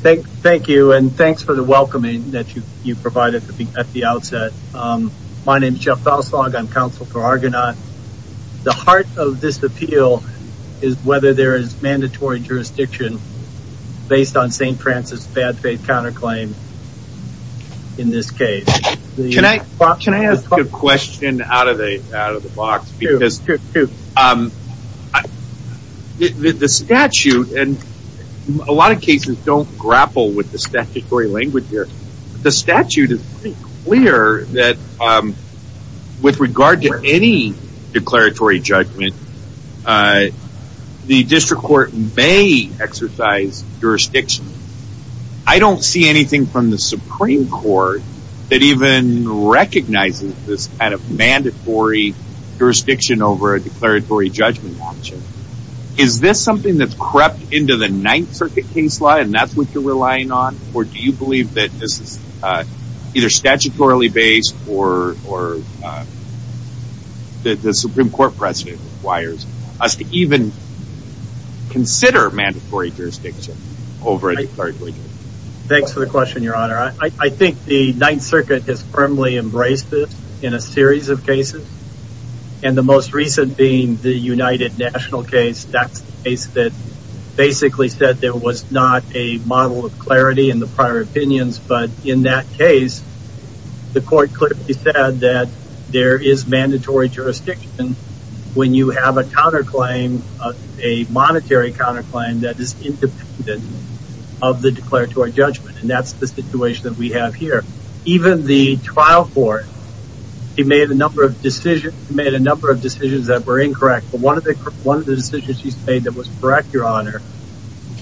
Thank you and thanks for the welcoming that you provided at the outset. My name is Jeff Dalslaug. I'm counsel for Argonaut. The heart of this appeal is whether there is mandatory jurisdiction based on St. Francis' bad faith counterclaim in this case. Can I ask a question out of the box? Sure. The statute, and a lot of cases don't grapple with the statutory language here, the statute is pretty clear that with regard to any declaratory judgment, the district court may exercise jurisdiction. I don't see anything from the Supreme Court that even recognizes this kind of mandatory jurisdiction over a declaratory judgment option. Is this something that's crept into the Ninth Circuit case law and that's what you're relying on? Or do you believe that this is either statutorily based or the Supreme Court precedent requires us to even consider mandatory jurisdiction over a declaratory judgment? Thanks for the question, Your Honor. I think the Ninth Circuit has firmly embraced this in a series of cases. And the most recent being the United National case. That's the case that basically said there was not a model of clarity in the prior opinions. But in that case, the court clearly said that there is mandatory jurisdiction when you have a counterclaim, a monetary counterclaim, that is independent of the declaratory judgment. And that's the situation that we have here. Even the trial court, he made a number of decisions that were incorrect. But one of the decisions he's made that was correct, Your Honor,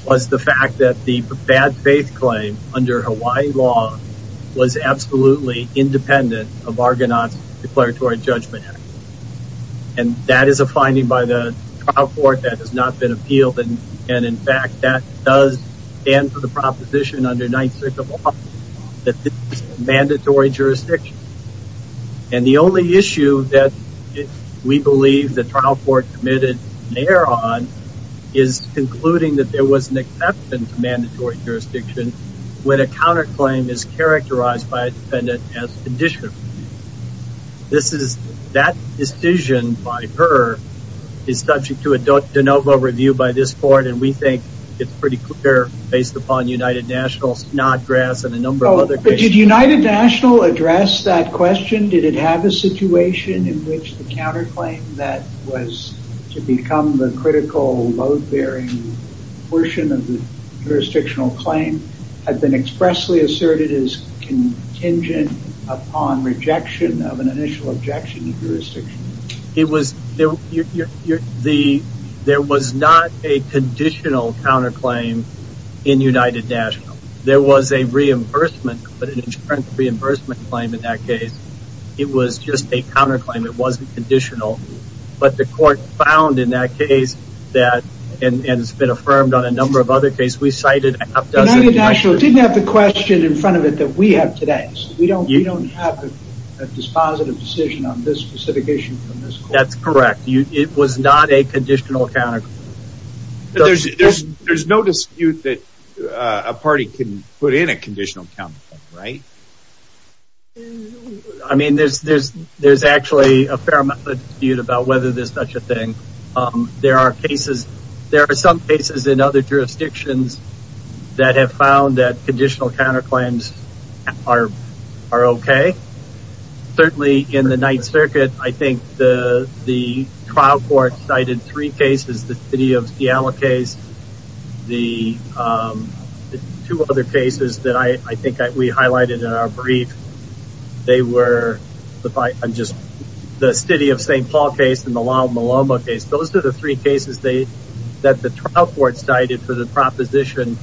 was the fact that the bad faith claim under Hawaii law was absolutely independent of Argonaut's declaratory judgment act. And that is a finding by the trial court that has not been appealed. And, in fact, that does stand for the proposition under Ninth Circuit law that this is mandatory jurisdiction. And the only issue that we believe the trial court committed an error on is concluding that there was an exception to mandatory jurisdiction when a counterclaim is characterized by a defendant as judicial. That decision by her is subject to a de novo review by this court. And we think it's pretty clear based upon United National's nod graphs and a number of other cases. Did United National address that question? Did it have a situation in which the counterclaim that was to become the critical load-bearing portion of the jurisdictional claim had been expressly asserted as contingent upon rejection of an initial objection to jurisdiction? There was not a conditional counterclaim in United National. There was a reimbursement, but an insurance reimbursement claim in that case. It was just a counterclaim. It wasn't conditional. But the court found in that case that, and it's been affirmed on a number of other cases, we cited a half-dozen. United National didn't have the question in front of it that we have today. We don't have a dispositive decision on this specific issue from this court. That's correct. It was not a conditional counterclaim. There's no dispute that a party can put in a conditional counterclaim, right? I mean, there's actually a fair amount of dispute about whether there's such a thing. There are cases, there are some cases in other jurisdictions that have found that conditional counterclaims are okay. Certainly in the Ninth Circuit, I think the trial court cited three cases, the City of Seattle case, the two other cases that I think we highlighted in our brief. They were the City of St. Paul case and the La Maloma case. Those are the three cases that the trial court cited for the proposition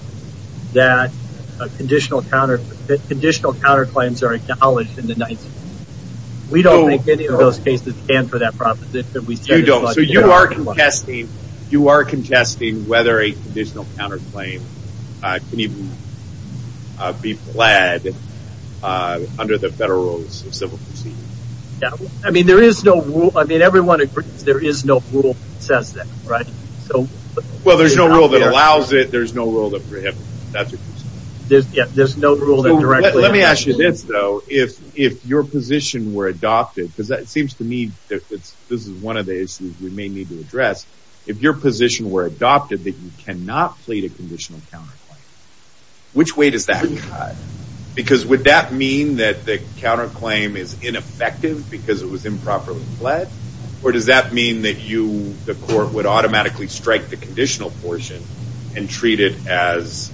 that conditional counterclaims are acknowledged in the Ninth Circuit. We don't make any of those cases stand for that proposition. So you are contesting whether a conditional counterclaim can even be pled under the federal rules of civil proceedings. I mean, everyone agrees there is no rule that says that, right? Well, there's no rule that allows it. There's no rule that prohibits it. Let me ask you this, though. If your position were adopted, because it seems to me that this is one of the issues we may need to address. If your position were adopted that you cannot plead a conditional counterclaim, which way does that cut? Because would that mean that the counterclaim is ineffective because it was improperly pled? Or does that mean that you, the court, would automatically strike the conditional portion and treat it as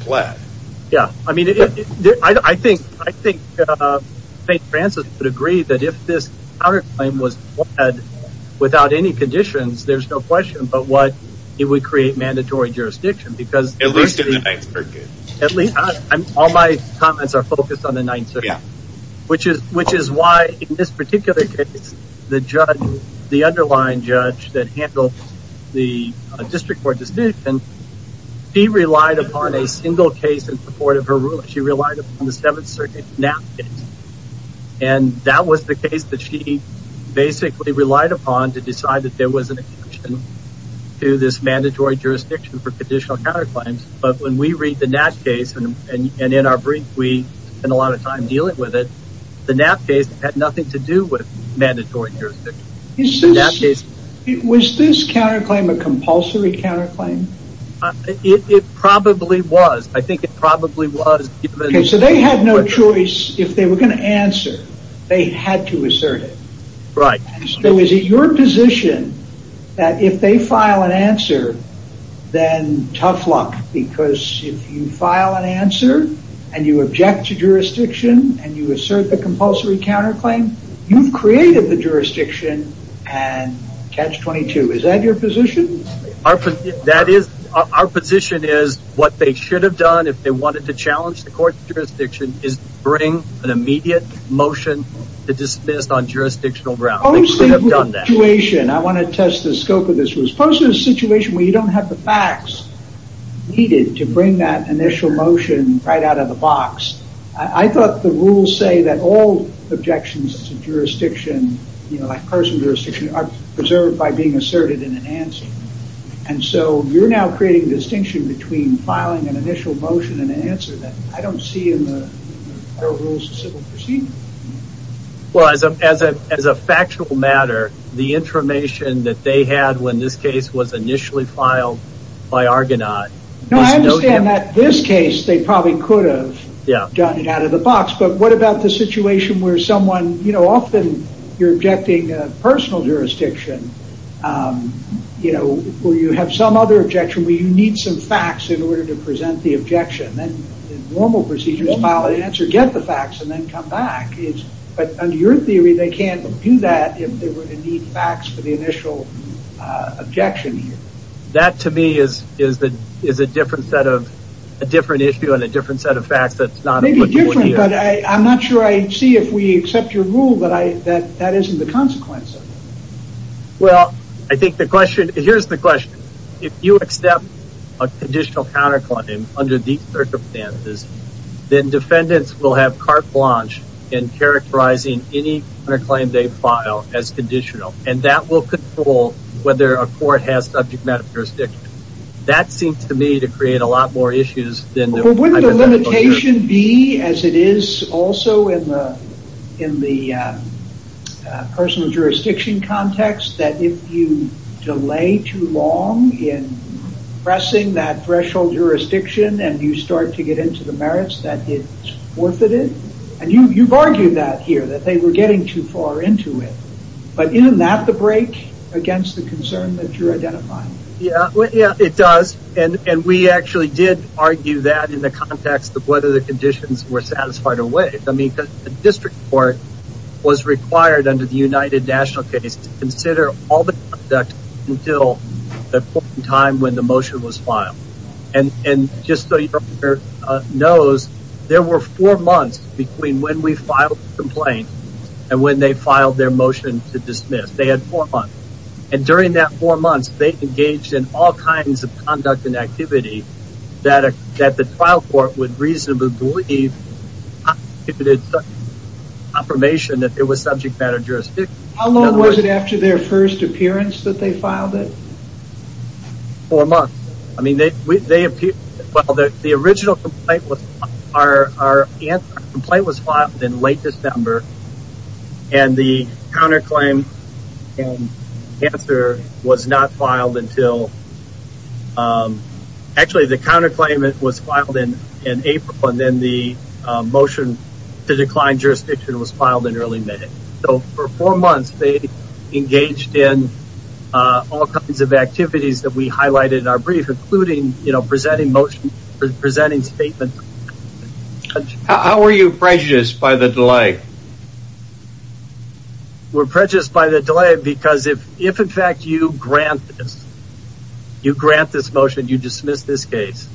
pled? Yeah, I mean, I think St. Francis would agree that if this counterclaim was pled without any conditions, there's no question about what it would create mandatory jurisdiction. At least in the Ninth Circuit. All my comments are focused on the Ninth Circuit. Yeah. Which is why, in this particular case, the underlying judge that handled the district court decision, she relied upon a single case in support of her ruling. She relied upon the Seventh Circuit nap case. And that was the case that she basically relied upon to decide that there was an exemption to this mandatory jurisdiction for conditional counterclaims. But when we read the nap case, and in our brief, we spend a lot of time dealing with it, the nap case had nothing to do with mandatory jurisdiction. Was this counterclaim a compulsory counterclaim? It probably was. I think it probably was. So they had no choice. If they were going to answer, they had to assert it. Right. So is it your position that if they file an answer, then tough luck? Because if you file an answer, and you object to jurisdiction, and you assert the compulsory counterclaim, you've created the jurisdiction, and catch 22. Is that your position? Our position is what they should have done if they wanted to challenge the court's jurisdiction is bring an immediate motion to dismiss on jurisdictional grounds. I want to test the scope of this. Suppose there's a situation where you don't have the facts needed to bring that initial motion right out of the box. I thought the rules say that all objections to jurisdiction are preserved by being asserted in an answer. And so you're now creating a distinction between filing an initial motion and an answer that I don't see in the rules of civil proceedings. Well, as a factual matter, the information that they had when this case was initially filed by Argonaut. No, I understand that this case, they probably could have done it out of the box. But what about the situation where someone, you know, often you're objecting a personal jurisdiction. You know, where you have some other objection, where you need some facts in order to present the objection. Then in normal procedures, file an answer, get the facts, and then come back. But under your theory, they can't do that if they were to need facts for the initial objection here. That to me is a different issue and a different set of facts. Maybe different, but I'm not sure I see if we accept your rule that that isn't the consequence of it. Well, I think the question, here's the question. If you accept a conditional counterclaim under these circumstances, then defendants will have carte blanche in characterizing any claim they file as conditional. And that will control whether a court has subject matter jurisdiction. That seems to me to create a lot more issues than... Wouldn't the limitation be, as it is also in the personal jurisdiction context, that if you delay too long in pressing that threshold jurisdiction, and you start to get into the merits, that it's worth it? And you've argued that here, that they were getting too far into it. But isn't that the break against the concern that you're identifying? Yeah, it does. And we actually did argue that in the context of whether the conditions were satisfied or waived. I mean, the district court was required under the United National case to consider all the conduct until the point in time when the motion was filed. And just so you know, there were four months between when we filed the complaint and when they filed their motion to dismiss. They had four months. And during that four months, they engaged in all kinds of conduct and activity that the trial court would reasonably believe if it was a confirmation that there was subject matter jurisdiction. How long was it after their first appearance that they filed it? Four months. I mean, they appeared... The original complaint was filed in late December. And the counterclaim and answer was not filed until... Actually, the counterclaim was filed in April, and then the motion to decline jurisdiction was filed in early May. So for four months, they engaged in all kinds of activities that we highlighted in our brief, including presenting motions, presenting statements. How are you prejudiced by the delay? We're prejudiced by the delay because if, in fact, you grant this, you grant this motion, you dismiss this case,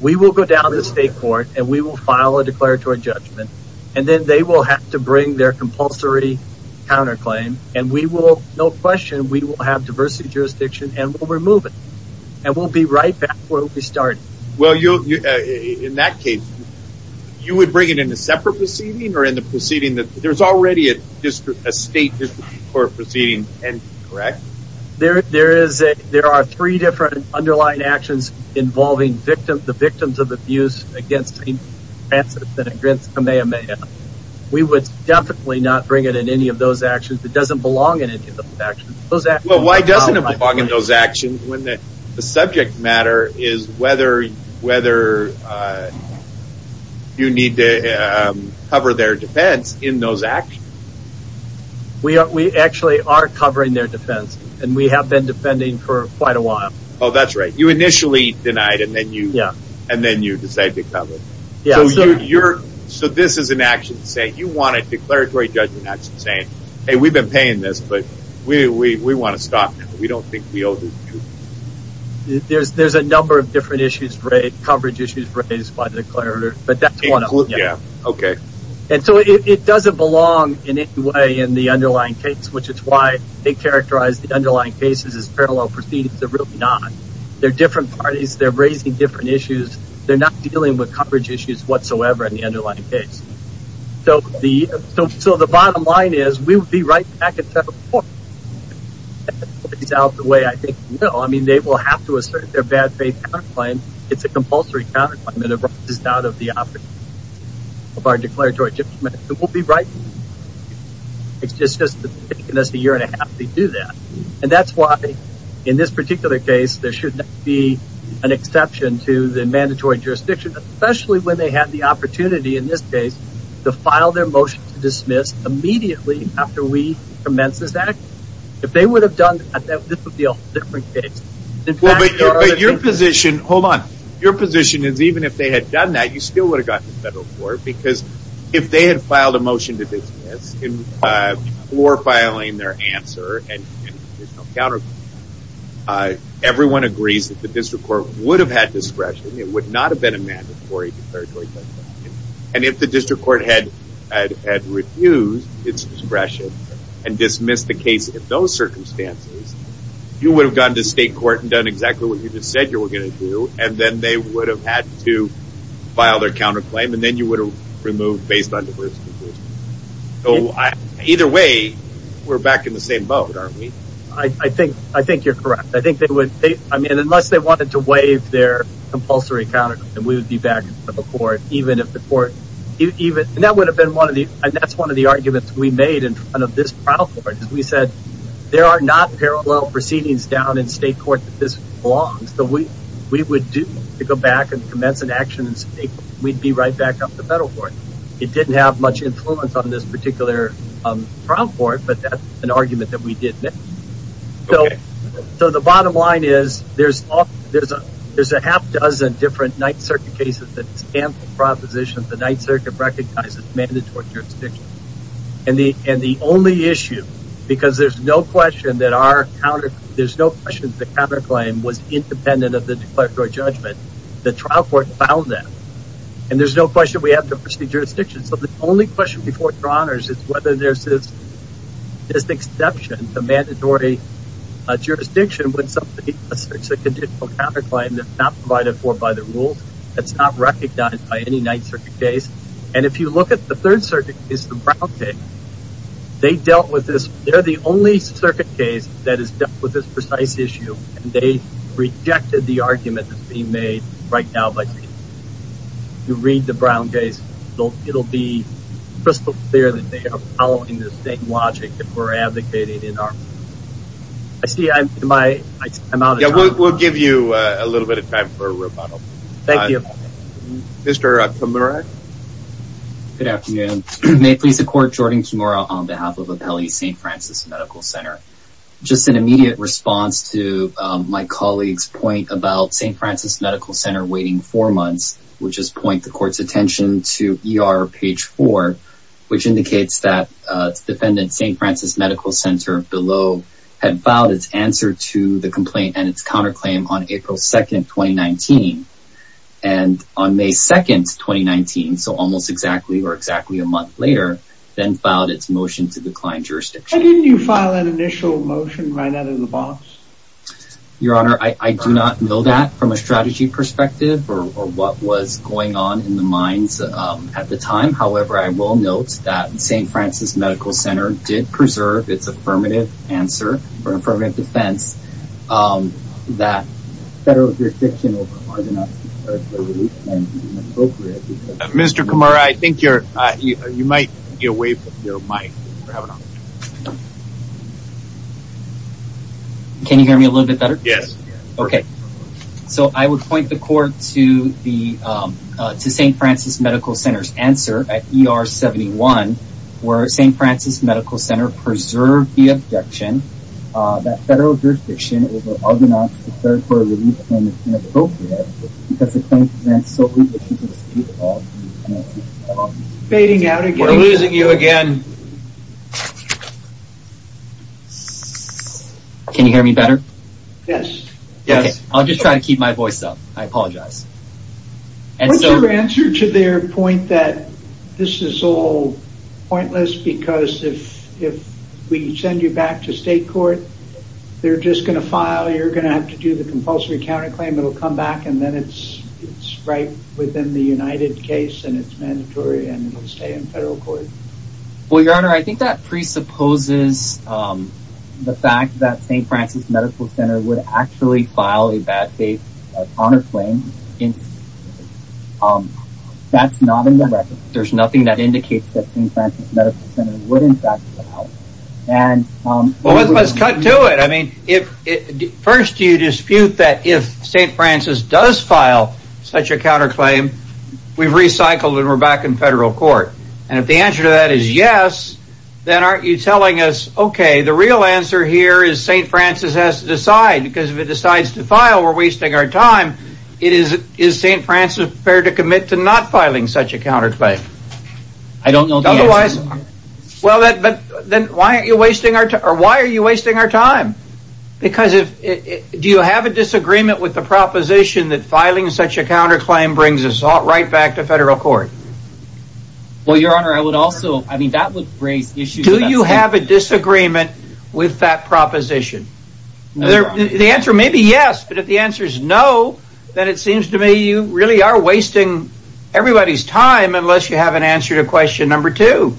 we will go down to the state court and we will file a declaratory judgment, and then they will have to bring their compulsory counterclaim, and we will, no question, we will have diversity of jurisdiction and we'll remove it. And we'll be right back where we started. Well, in that case, you would bring it in a separate proceeding or in the proceeding that... There's already a state district court proceeding, correct? There are three different underlying actions involving the victims of abuse against St. Francis and against Kamehameha. We would definitely not bring it in any of those actions. It doesn't belong in any of those actions. Well, why doesn't it belong in those actions when the subject matter is whether you need to cover their defense in those actions? We actually are covering their defense, and we have been defending for quite a while. Oh, that's right. You initially denied and then you decided to cover it. So this is an action saying you want a declaratory judgment action saying, Hey, we've been paying this, but we want to stop now. We don't think we owe this to you. There's a number of different issues, coverage issues raised by the declarator, but that's one of them. Okay. And so it doesn't belong in any way in the underlying case, which is why they characterize the underlying cases as parallel proceedings. They're really not. They're different parties. They're raising different issues. They're not dealing with coverage issues whatsoever in the underlying case. So the bottom line is we would be right back at several points. It's out of the way, I think. No, I mean, they will have to assert their bad faith counterclaim. It's a compulsory counterclaim and it runs out of the opportunity of our declaratory judgment. It will be right. It's just taken us a year and a half to do that. And that's why in this particular case, there should not be an exception to the mandatory jurisdiction, especially when they have the opportunity in this case to file their motion to dismiss immediately after we commence this act. If they would have done that, this would be a different case. But your position, hold on. Your position is even if they had done that, you still would have gotten to federal court, because if they had filed a motion to dismiss before filing their answer and counterclaim, everyone agrees that the district court would have had discretion. It would not have been a mandatory declaratory judgment. And if the district court had refused its discretion and dismissed the case in those circumstances, you would have gone to state court and done exactly what you just said you were going to do. And then they would have had to file their counterclaim. And then you would have removed based on diverse conclusions. So either way, we're back in the same boat, aren't we? I think you're correct. I mean, unless they wanted to waive their compulsory counterclaim, we would be back in federal court. And that's one of the arguments we made in front of this trial court. We said there are not parallel proceedings down in state court that this belongs. So we would do to go back and commence an action in state court, we'd be right back up to federal court. It didn't have much influence on this particular trial court, but that's an argument that we did make. So the bottom line is there's a half dozen different Ninth Circuit cases that stand for propositions the Ninth Circuit recognizes mandatory jurisdiction. And the only issue, because there's no question that our counterclaim was independent of the declaratory judgment, the trial court found that. And there's no question we have diversity of jurisdiction. So the only question before your honors is whether there's this exception to mandatory jurisdiction when somebody asserts a conditional counterclaim that's not provided for by the rules, that's not recognized by any Ninth Circuit case. And if you look at the Third Circuit case, the Brown case, they dealt with this, they're the only circuit case that has dealt with this precise issue, and they rejected the argument that's being made right now. If you read the Brown case, it'll be crystal clear that they are following the same logic that we're advocating. I see I'm out of time. We'll give you a little bit of time for a rebuttal. Thank you. Mr. Kimura. Good afternoon. May it please the court, Jordan Kimura on behalf of Apelli St. Francis Medical Center. Just an immediate response to my colleague's point about St. Francis Medical Center waiting four months, which is point the court's attention to ER page four, which indicates that the defendant, St. Francis Medical Center below, had filed its answer to the complaint and its counterclaim on April 2nd, 2019. And on May 2nd, 2019, so almost exactly or exactly a month later, then filed its motion to decline jurisdiction. And didn't you file an initial motion right out of the box? Your Honor, I do not know that from a strategy perspective or what was going on in the minds at the time. However, I will note that St. Francis Medical Center did preserve its affirmative answer for affirmative defense. That federal jurisdiction. Mr. Kimura, I think you're you might get away with your mic. Can you hear me a little bit better? Yes. Okay. So I would point the court to the St. Francis Medical Center's answer at ER 71, where St. Francis Medical Center preserved the objection that federal jurisdiction over Argonauts for a relief claim is inappropriate because the claim presents so little to the state of the United States. Fading out again. We're losing you again. Can you hear me better? Yes. Yes. I'll just try to keep my voice up. I apologize. What's your answer to their point that this is all pointless because if we send you back to state court, they're just going to file, you're going to have to do the compulsory counterclaim. It'll come back and then it's right within the United case and it's mandatory and it'll stay in federal court. Well, Your Honor, I think that presupposes the fact that St. Francis Medical Center would actually file a bad faith counterclaim. That's not in the record. There's nothing that indicates that St. Francis Medical Center would in fact file. Well, let's cut to it. I mean, first you dispute that if St. Francis does file such a counterclaim, we've recycled and we're back in federal court. And if the answer to that is yes, then aren't you telling us, okay, the real answer here is St. Francis has to decide because if it decides to file, we're wasting our time. Is St. Francis prepared to commit to not filing such a counterclaim? I don't know the answer. Otherwise, well, then why are you wasting our time? Because do you have a disagreement with the proposition that filing such a counterclaim brings us right back to federal court? Well, Your Honor, I would also, I mean, that would raise issues. Do you have a disagreement with that proposition? The answer may be yes, but if the answer is no, then it seems to me you really are wasting everybody's time unless you have an answer to question number two.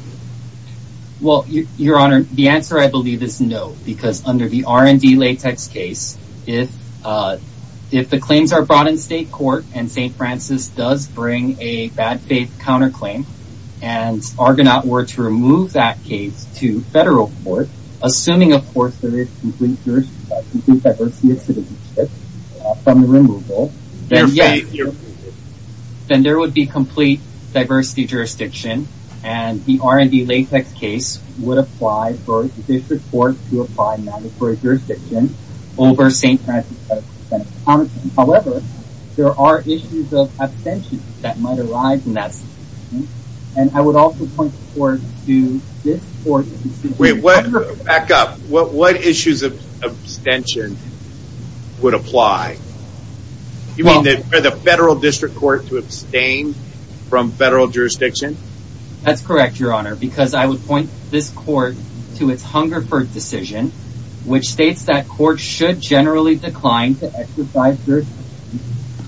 Well, Your Honor, the answer I believe is no, because under the R&D latex case, if the claims are brought in state court and St. Francis does bring a bad faith counterclaim and Argonaut were to remove that case to federal court, assuming, of course, there is complete diversity of citizenship from the removal, then yes, then there would be complete diversity of jurisdiction and the R&D latex case would apply for the district court to apply mandatory jurisdiction over St. Francis. However, there are issues of abstention that might arise in that situation, and I would also point the court to this court. Wait, back up. What issues of abstention would apply? You mean for the federal district court to abstain from federal jurisdiction? That's correct, Your Honor, because I would point this court to its Hungerford decision, which states that courts should generally decline to exercise their jurisdiction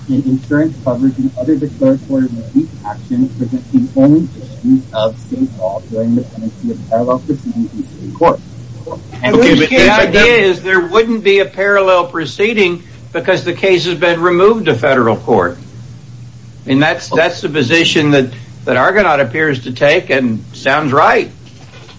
in insurance coverage and other declaratory relief actions within the only district of state law during the penalty of parallel proceedings in state court. Okay, but the idea is there wouldn't be a parallel proceeding because the case has been removed to federal court, and that's the position that Argonaut appears to take and sounds right.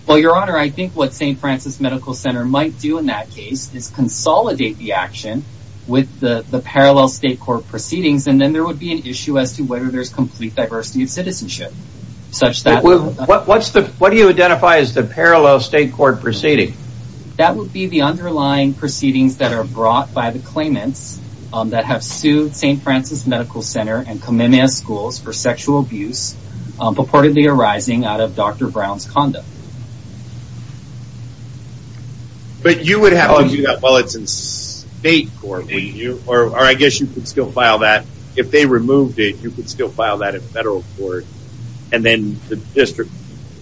Well, Your Honor, I think what St. Francis Medical Center might do in that case is consolidate the action with the parallel state court proceedings, and then there would be an issue as to whether there's complete diversity of citizenship. What do you identify as the parallel state court proceeding? That would be the underlying proceedings that are brought by the claimants that have sued St. Francis Medical Center and Kamemea Schools for sexual abuse purportedly arising out of Dr. Brown's conduct. But you would have to do that while it's in state court, wouldn't you? Or I guess you could still file that. If they removed it, you could still file that in federal court, and then the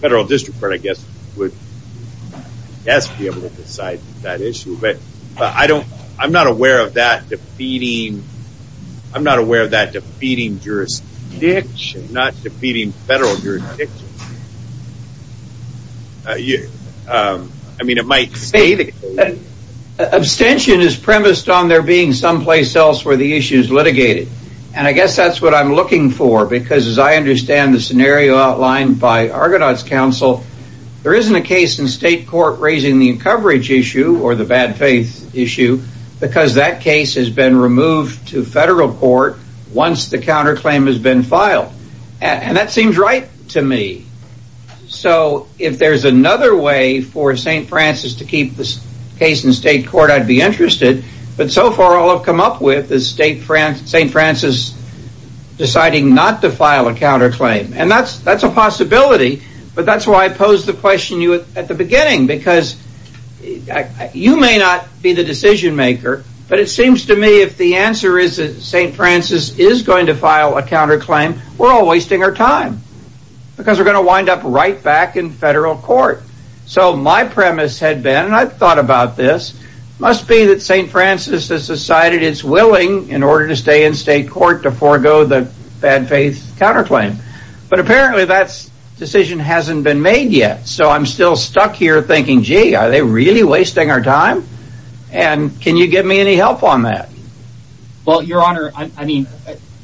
federal district court, I guess, would best be able to decide that issue. But I'm not aware of that defeating jurisdiction, not defeating federal jurisdiction. I mean, it might stay the case. Abstention is premised on there being someplace else where the issue is litigated, and I guess that's what I'm looking for, because as I understand the scenario outlined by Argonaut's counsel, there isn't a case in state court raising the coverage issue or the bad faith issue because that case has been removed to federal court once the counterclaim has been filed. And that seems right to me. So if there's another way for St. Francis to keep this case in state court, I'd be interested. But so far all I've come up with is St. Francis deciding not to file a counterclaim. And that's a possibility, but that's why I posed the question to you at the beginning, because you may not be the decision maker, but it seems to me if the answer is that St. Francis is going to file a counterclaim, we're all wasting our time because we're going to wind up right back in federal court. So my premise had been, and I've thought about this, must be that St. Francis has decided it's willing, in order to stay in state court, to forego the bad faith counterclaim. But apparently that decision hasn't been made yet, so I'm still stuck here thinking, gee, are they really wasting our time? And can you give me any help on that? Well, Your Honor, I mean,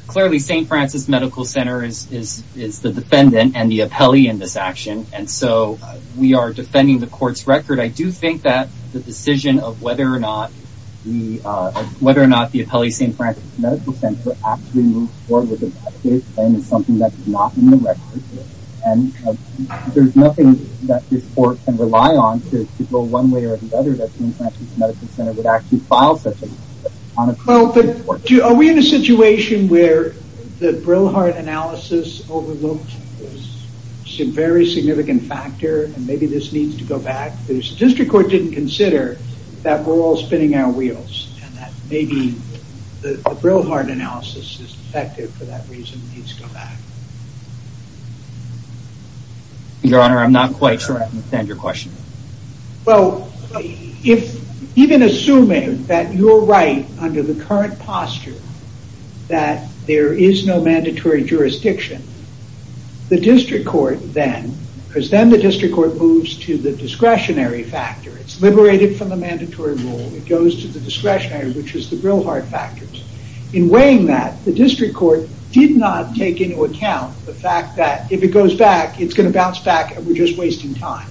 clearly St. Francis Medical Center is the defendant and the appellee in this action, and so we are defending the court's record. I do think that the decision of whether or not the appellee at St. Francis Medical Center actually moved forward with a bad faith claim is something that's not in the record. And there's nothing that this court can rely on to go one way or the other that St. Francis Medical Center would actually file such a claim. Are we in a situation where the Brillhart analysis overlooks some very significant factor and maybe this needs to go back? The district court didn't consider that we're all spinning our wheels and that maybe the Brillhart analysis is effective for that reason and needs to go back. Your Honor, I'm not quite sure I understand your question. Well, even assuming that you're right under the current posture that there is no mandatory jurisdiction, the district court then, because then the district court moves to the discretionary factor, it's liberated from the mandatory rule, it goes to the discretionary, which is the Brillhart factor. In weighing that, the district court did not take into account the fact that if it goes back, it's going to bounce back and we're just wasting time.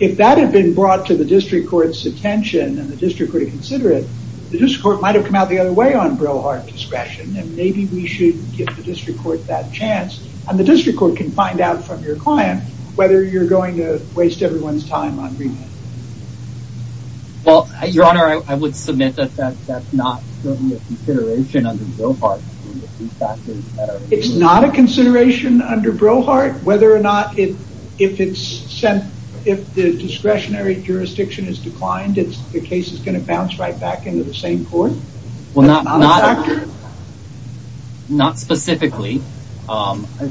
If that had been brought to the district court's attention and the district court had considered it, the district court might have come out the other way on Brillhart discretion and maybe we should give the district court that chance and the district court can find out from your client whether you're going to waste everyone's time on remand. Well, Your Honor, I would submit that that's not really a consideration under Brillhart. It's not a consideration under Brillhart? Whether or not if the discretionary jurisdiction is declined, the case is going to bounce right back into the same court? Well, not specifically.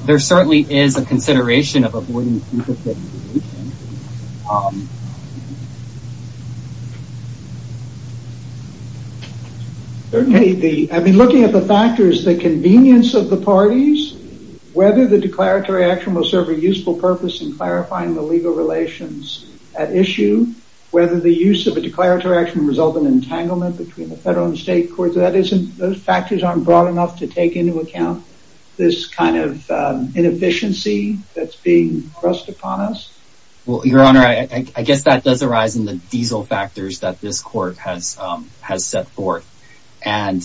There certainly is a consideration of avoiding... I've been looking at the factors, the convenience of the parties, whether the declaratory action will serve a useful purpose in clarifying the legal relations at issue, whether the use of a declaratory action will result in entanglement between the federal and state courts. So those factors aren't broad enough to take into account this kind of inefficiency that's being thrust upon us? Well, Your Honor, I guess that does arise in the diesel factors that this court has set forth. And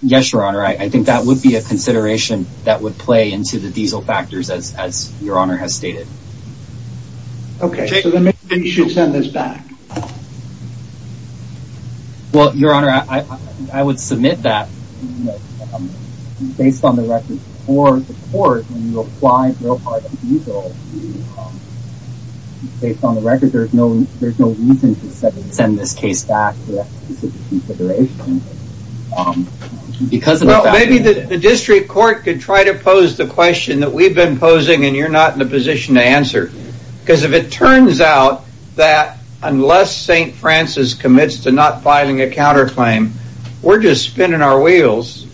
yes, Your Honor, I think that would be a consideration that would play into the diesel factors as Your Honor has stated. Okay, so then maybe we should send this back. Well, Your Honor, I would submit that, based on the record for the court, when you apply for a part of diesel, based on the record, there's no reason to send this case back to that specific consideration. Maybe the district court could try to pose the question that we've been posing and you're not in a position to answer. Because if it turns out that unless St. Francis commits to not filing a counterclaim, we're just spinning our wheels.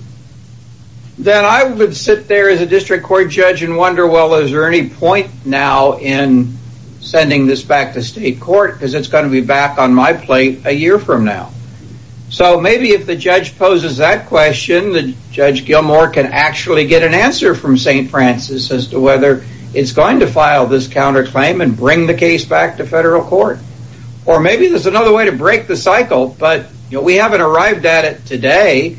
Then I would sit there as a district court judge and wonder, well, is there any point now in sending this back to state court? Because it's going to be back on my plate a year from now. So maybe if the judge poses that question, Judge Gilmour can actually get an answer from St. Francis as to whether it's going to file this counterclaim and bring the case back to federal court. Or maybe there's another way to break the cycle, but we haven't arrived at it today,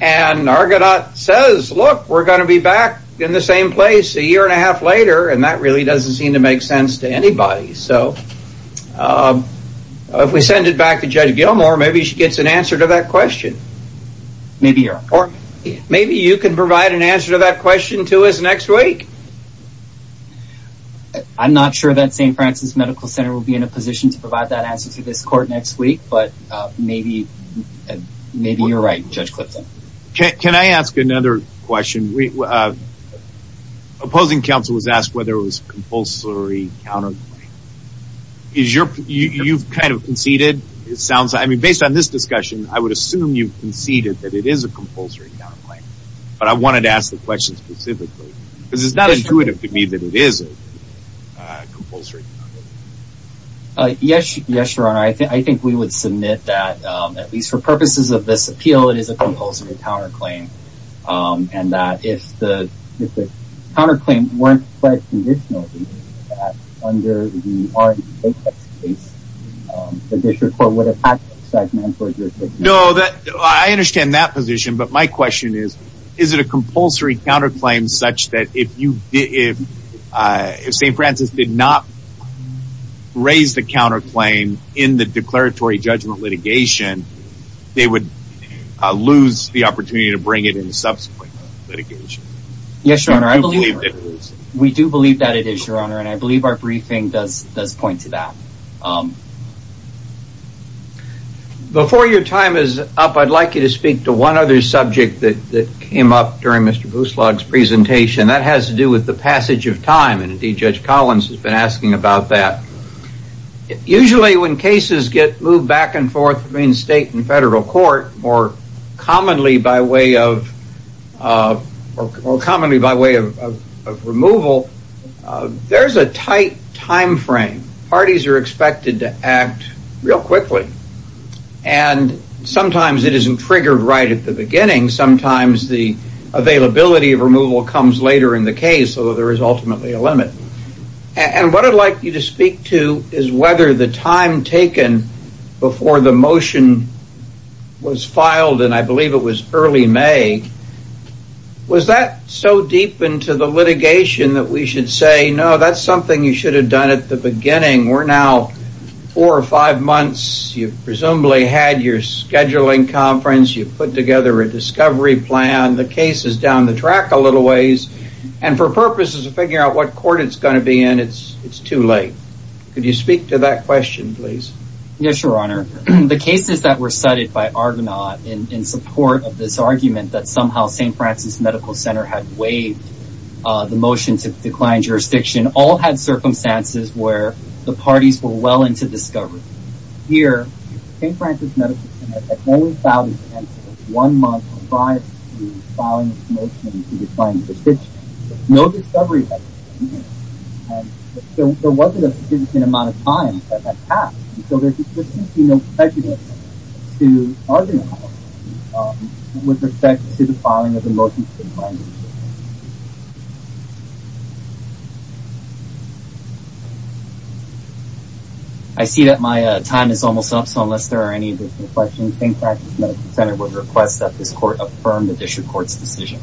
and Argonaut says, look, we're going to be back in the same place a year and a half later, and that really doesn't seem to make sense to anybody. If we send it back to Judge Gilmour, maybe she gets an answer to that question. Maybe you're right. Or maybe you can provide an answer to that question to us next week. I'm not sure that St. Francis Medical Center will be in a position to provide that answer to this court next week, but maybe you're right, Judge Clifton. Can I ask another question? Opposing counsel was asked whether it was compulsory counterclaim. You've kind of conceded. Based on this discussion, I would assume you've conceded that it is a compulsory counterclaim, but I wanted to ask the question specifically, because it's not intuitive to me that it is a compulsory counterclaim. Yes, Your Honor. I think we would submit that, at least for purposes of this appeal, it is a compulsory counterclaim, and that if the counterclaim weren't pledged conditionally, under the R.E.P.A.T.E.X. case, the district court would have had to exactly enforce your judgment. No, I understand that position, but my question is, is it a compulsory counterclaim such that if St. Francis did not raise the counterclaim in the declaratory judgment litigation, they would lose the opportunity to bring it in subsequent litigation? Yes, Your Honor, I believe that it is. Yes, Your Honor, and I believe our briefing does point to that. Before your time is up, I'd like you to speak to one other subject that came up during Mr. Buslog's presentation. That has to do with the passage of time, and indeed Judge Collins has been asking about that. Usually when cases get moved back and forth between state and federal court, more commonly by way of removal, there's a tight time frame. Parties are expected to act real quickly, and sometimes it isn't triggered right at the beginning. Sometimes the availability of removal comes later in the case, although there is ultimately a limit. And what I'd like you to speak to is whether the time taken before the motion was filed, and I believe it was early May, was that so deep into the litigation that we should say, no, that's something you should have done at the beginning. We're now four or five months. You've presumably had your scheduling conference. You've put together a discovery plan. The case is down the track a little ways, and for purposes of figuring out what court it's going to be in, it's too late. Could you speak to that question, please? Yes, Your Honor. The cases that were cited by Argonaut in support of this argument that somehow St. Francis Medical Center had waived the motion to decline jurisdiction all had circumstances where the parties were well into discovery. Here, St. Francis Medical Center had only filed its case one month prior to filing its motion to decline jurisdiction. No discovery had been made. There wasn't a significant amount of time that had passed, so there seems to be no prejudice to Argonaut with respect to the filing of the motion to decline jurisdiction. I see that my time is almost up, so unless there are any additional questions, St. Francis Medical Center would request that this court affirm the district court's decision.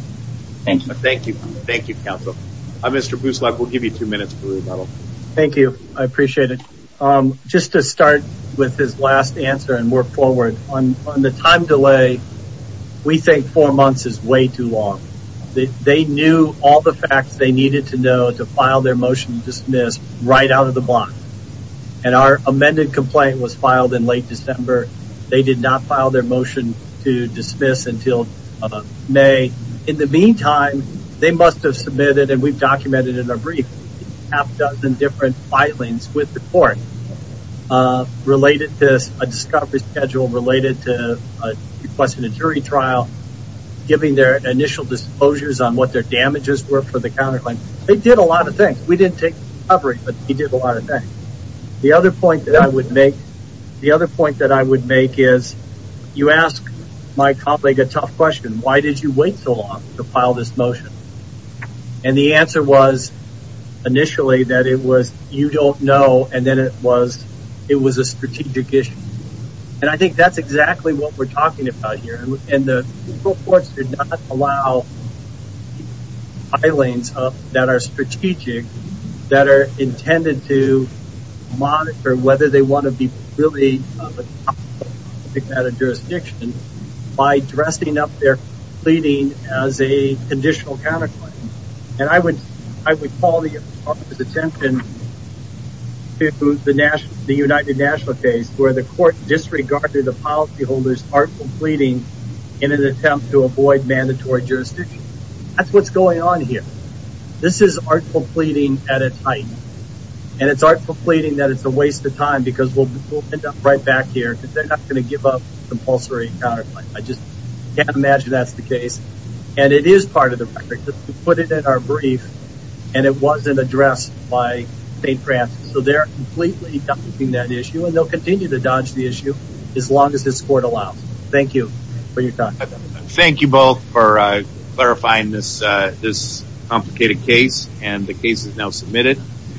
Thank you. Thank you. Thank you, counsel. Mr. Buslack, we'll give you two minutes for rebuttal. Thank you. I appreciate it. Just to start with his last answer and work forward, on the time delay, we think four months is way too long. They knew all the facts they needed to know to file their motion to dismiss right out of the block, and our amended complaint was filed in late December. They did not file their motion to dismiss until May. In the meantime, they must have submitted, and we've documented in our brief, a half-dozen different filings with the court related to a discovery schedule, related to requesting a jury trial, giving their initial disclosures on what their damages were for the counterclaim. They did a lot of things. We didn't take the discovery, but they did a lot of things. The other point that I would make is, you asked my colleague a tough question. Why did you wait so long to file this motion? And the answer was, initially, that it was, you don't know, and then it was a strategic issue. And I think that's exactly what we're talking about here. And the courts did not allow filings up that are strategic, that are intended to monitor whether they want to be at a jurisdiction by dressing up their pleading as a conditional counterclaim. And I would call the attempt to the United National case where the court disregarded the policyholder's artful pleading in an attempt to avoid mandatory jurisdiction. That's what's going on here. This is artful pleading at its height. And it's artful pleading that it's a waste of time because we'll end up right back here, because they're not going to give up compulsory counterclaim. I just can't imagine that's the case. And it is part of the record. We put it in our brief, and it wasn't addressed by St. Francis. So they're completely dodging that issue, and they'll continue to dodge the issue as long as this court allows. Thank you for your time. Thank you both for clarifying this complicated case. And the case is now submitted.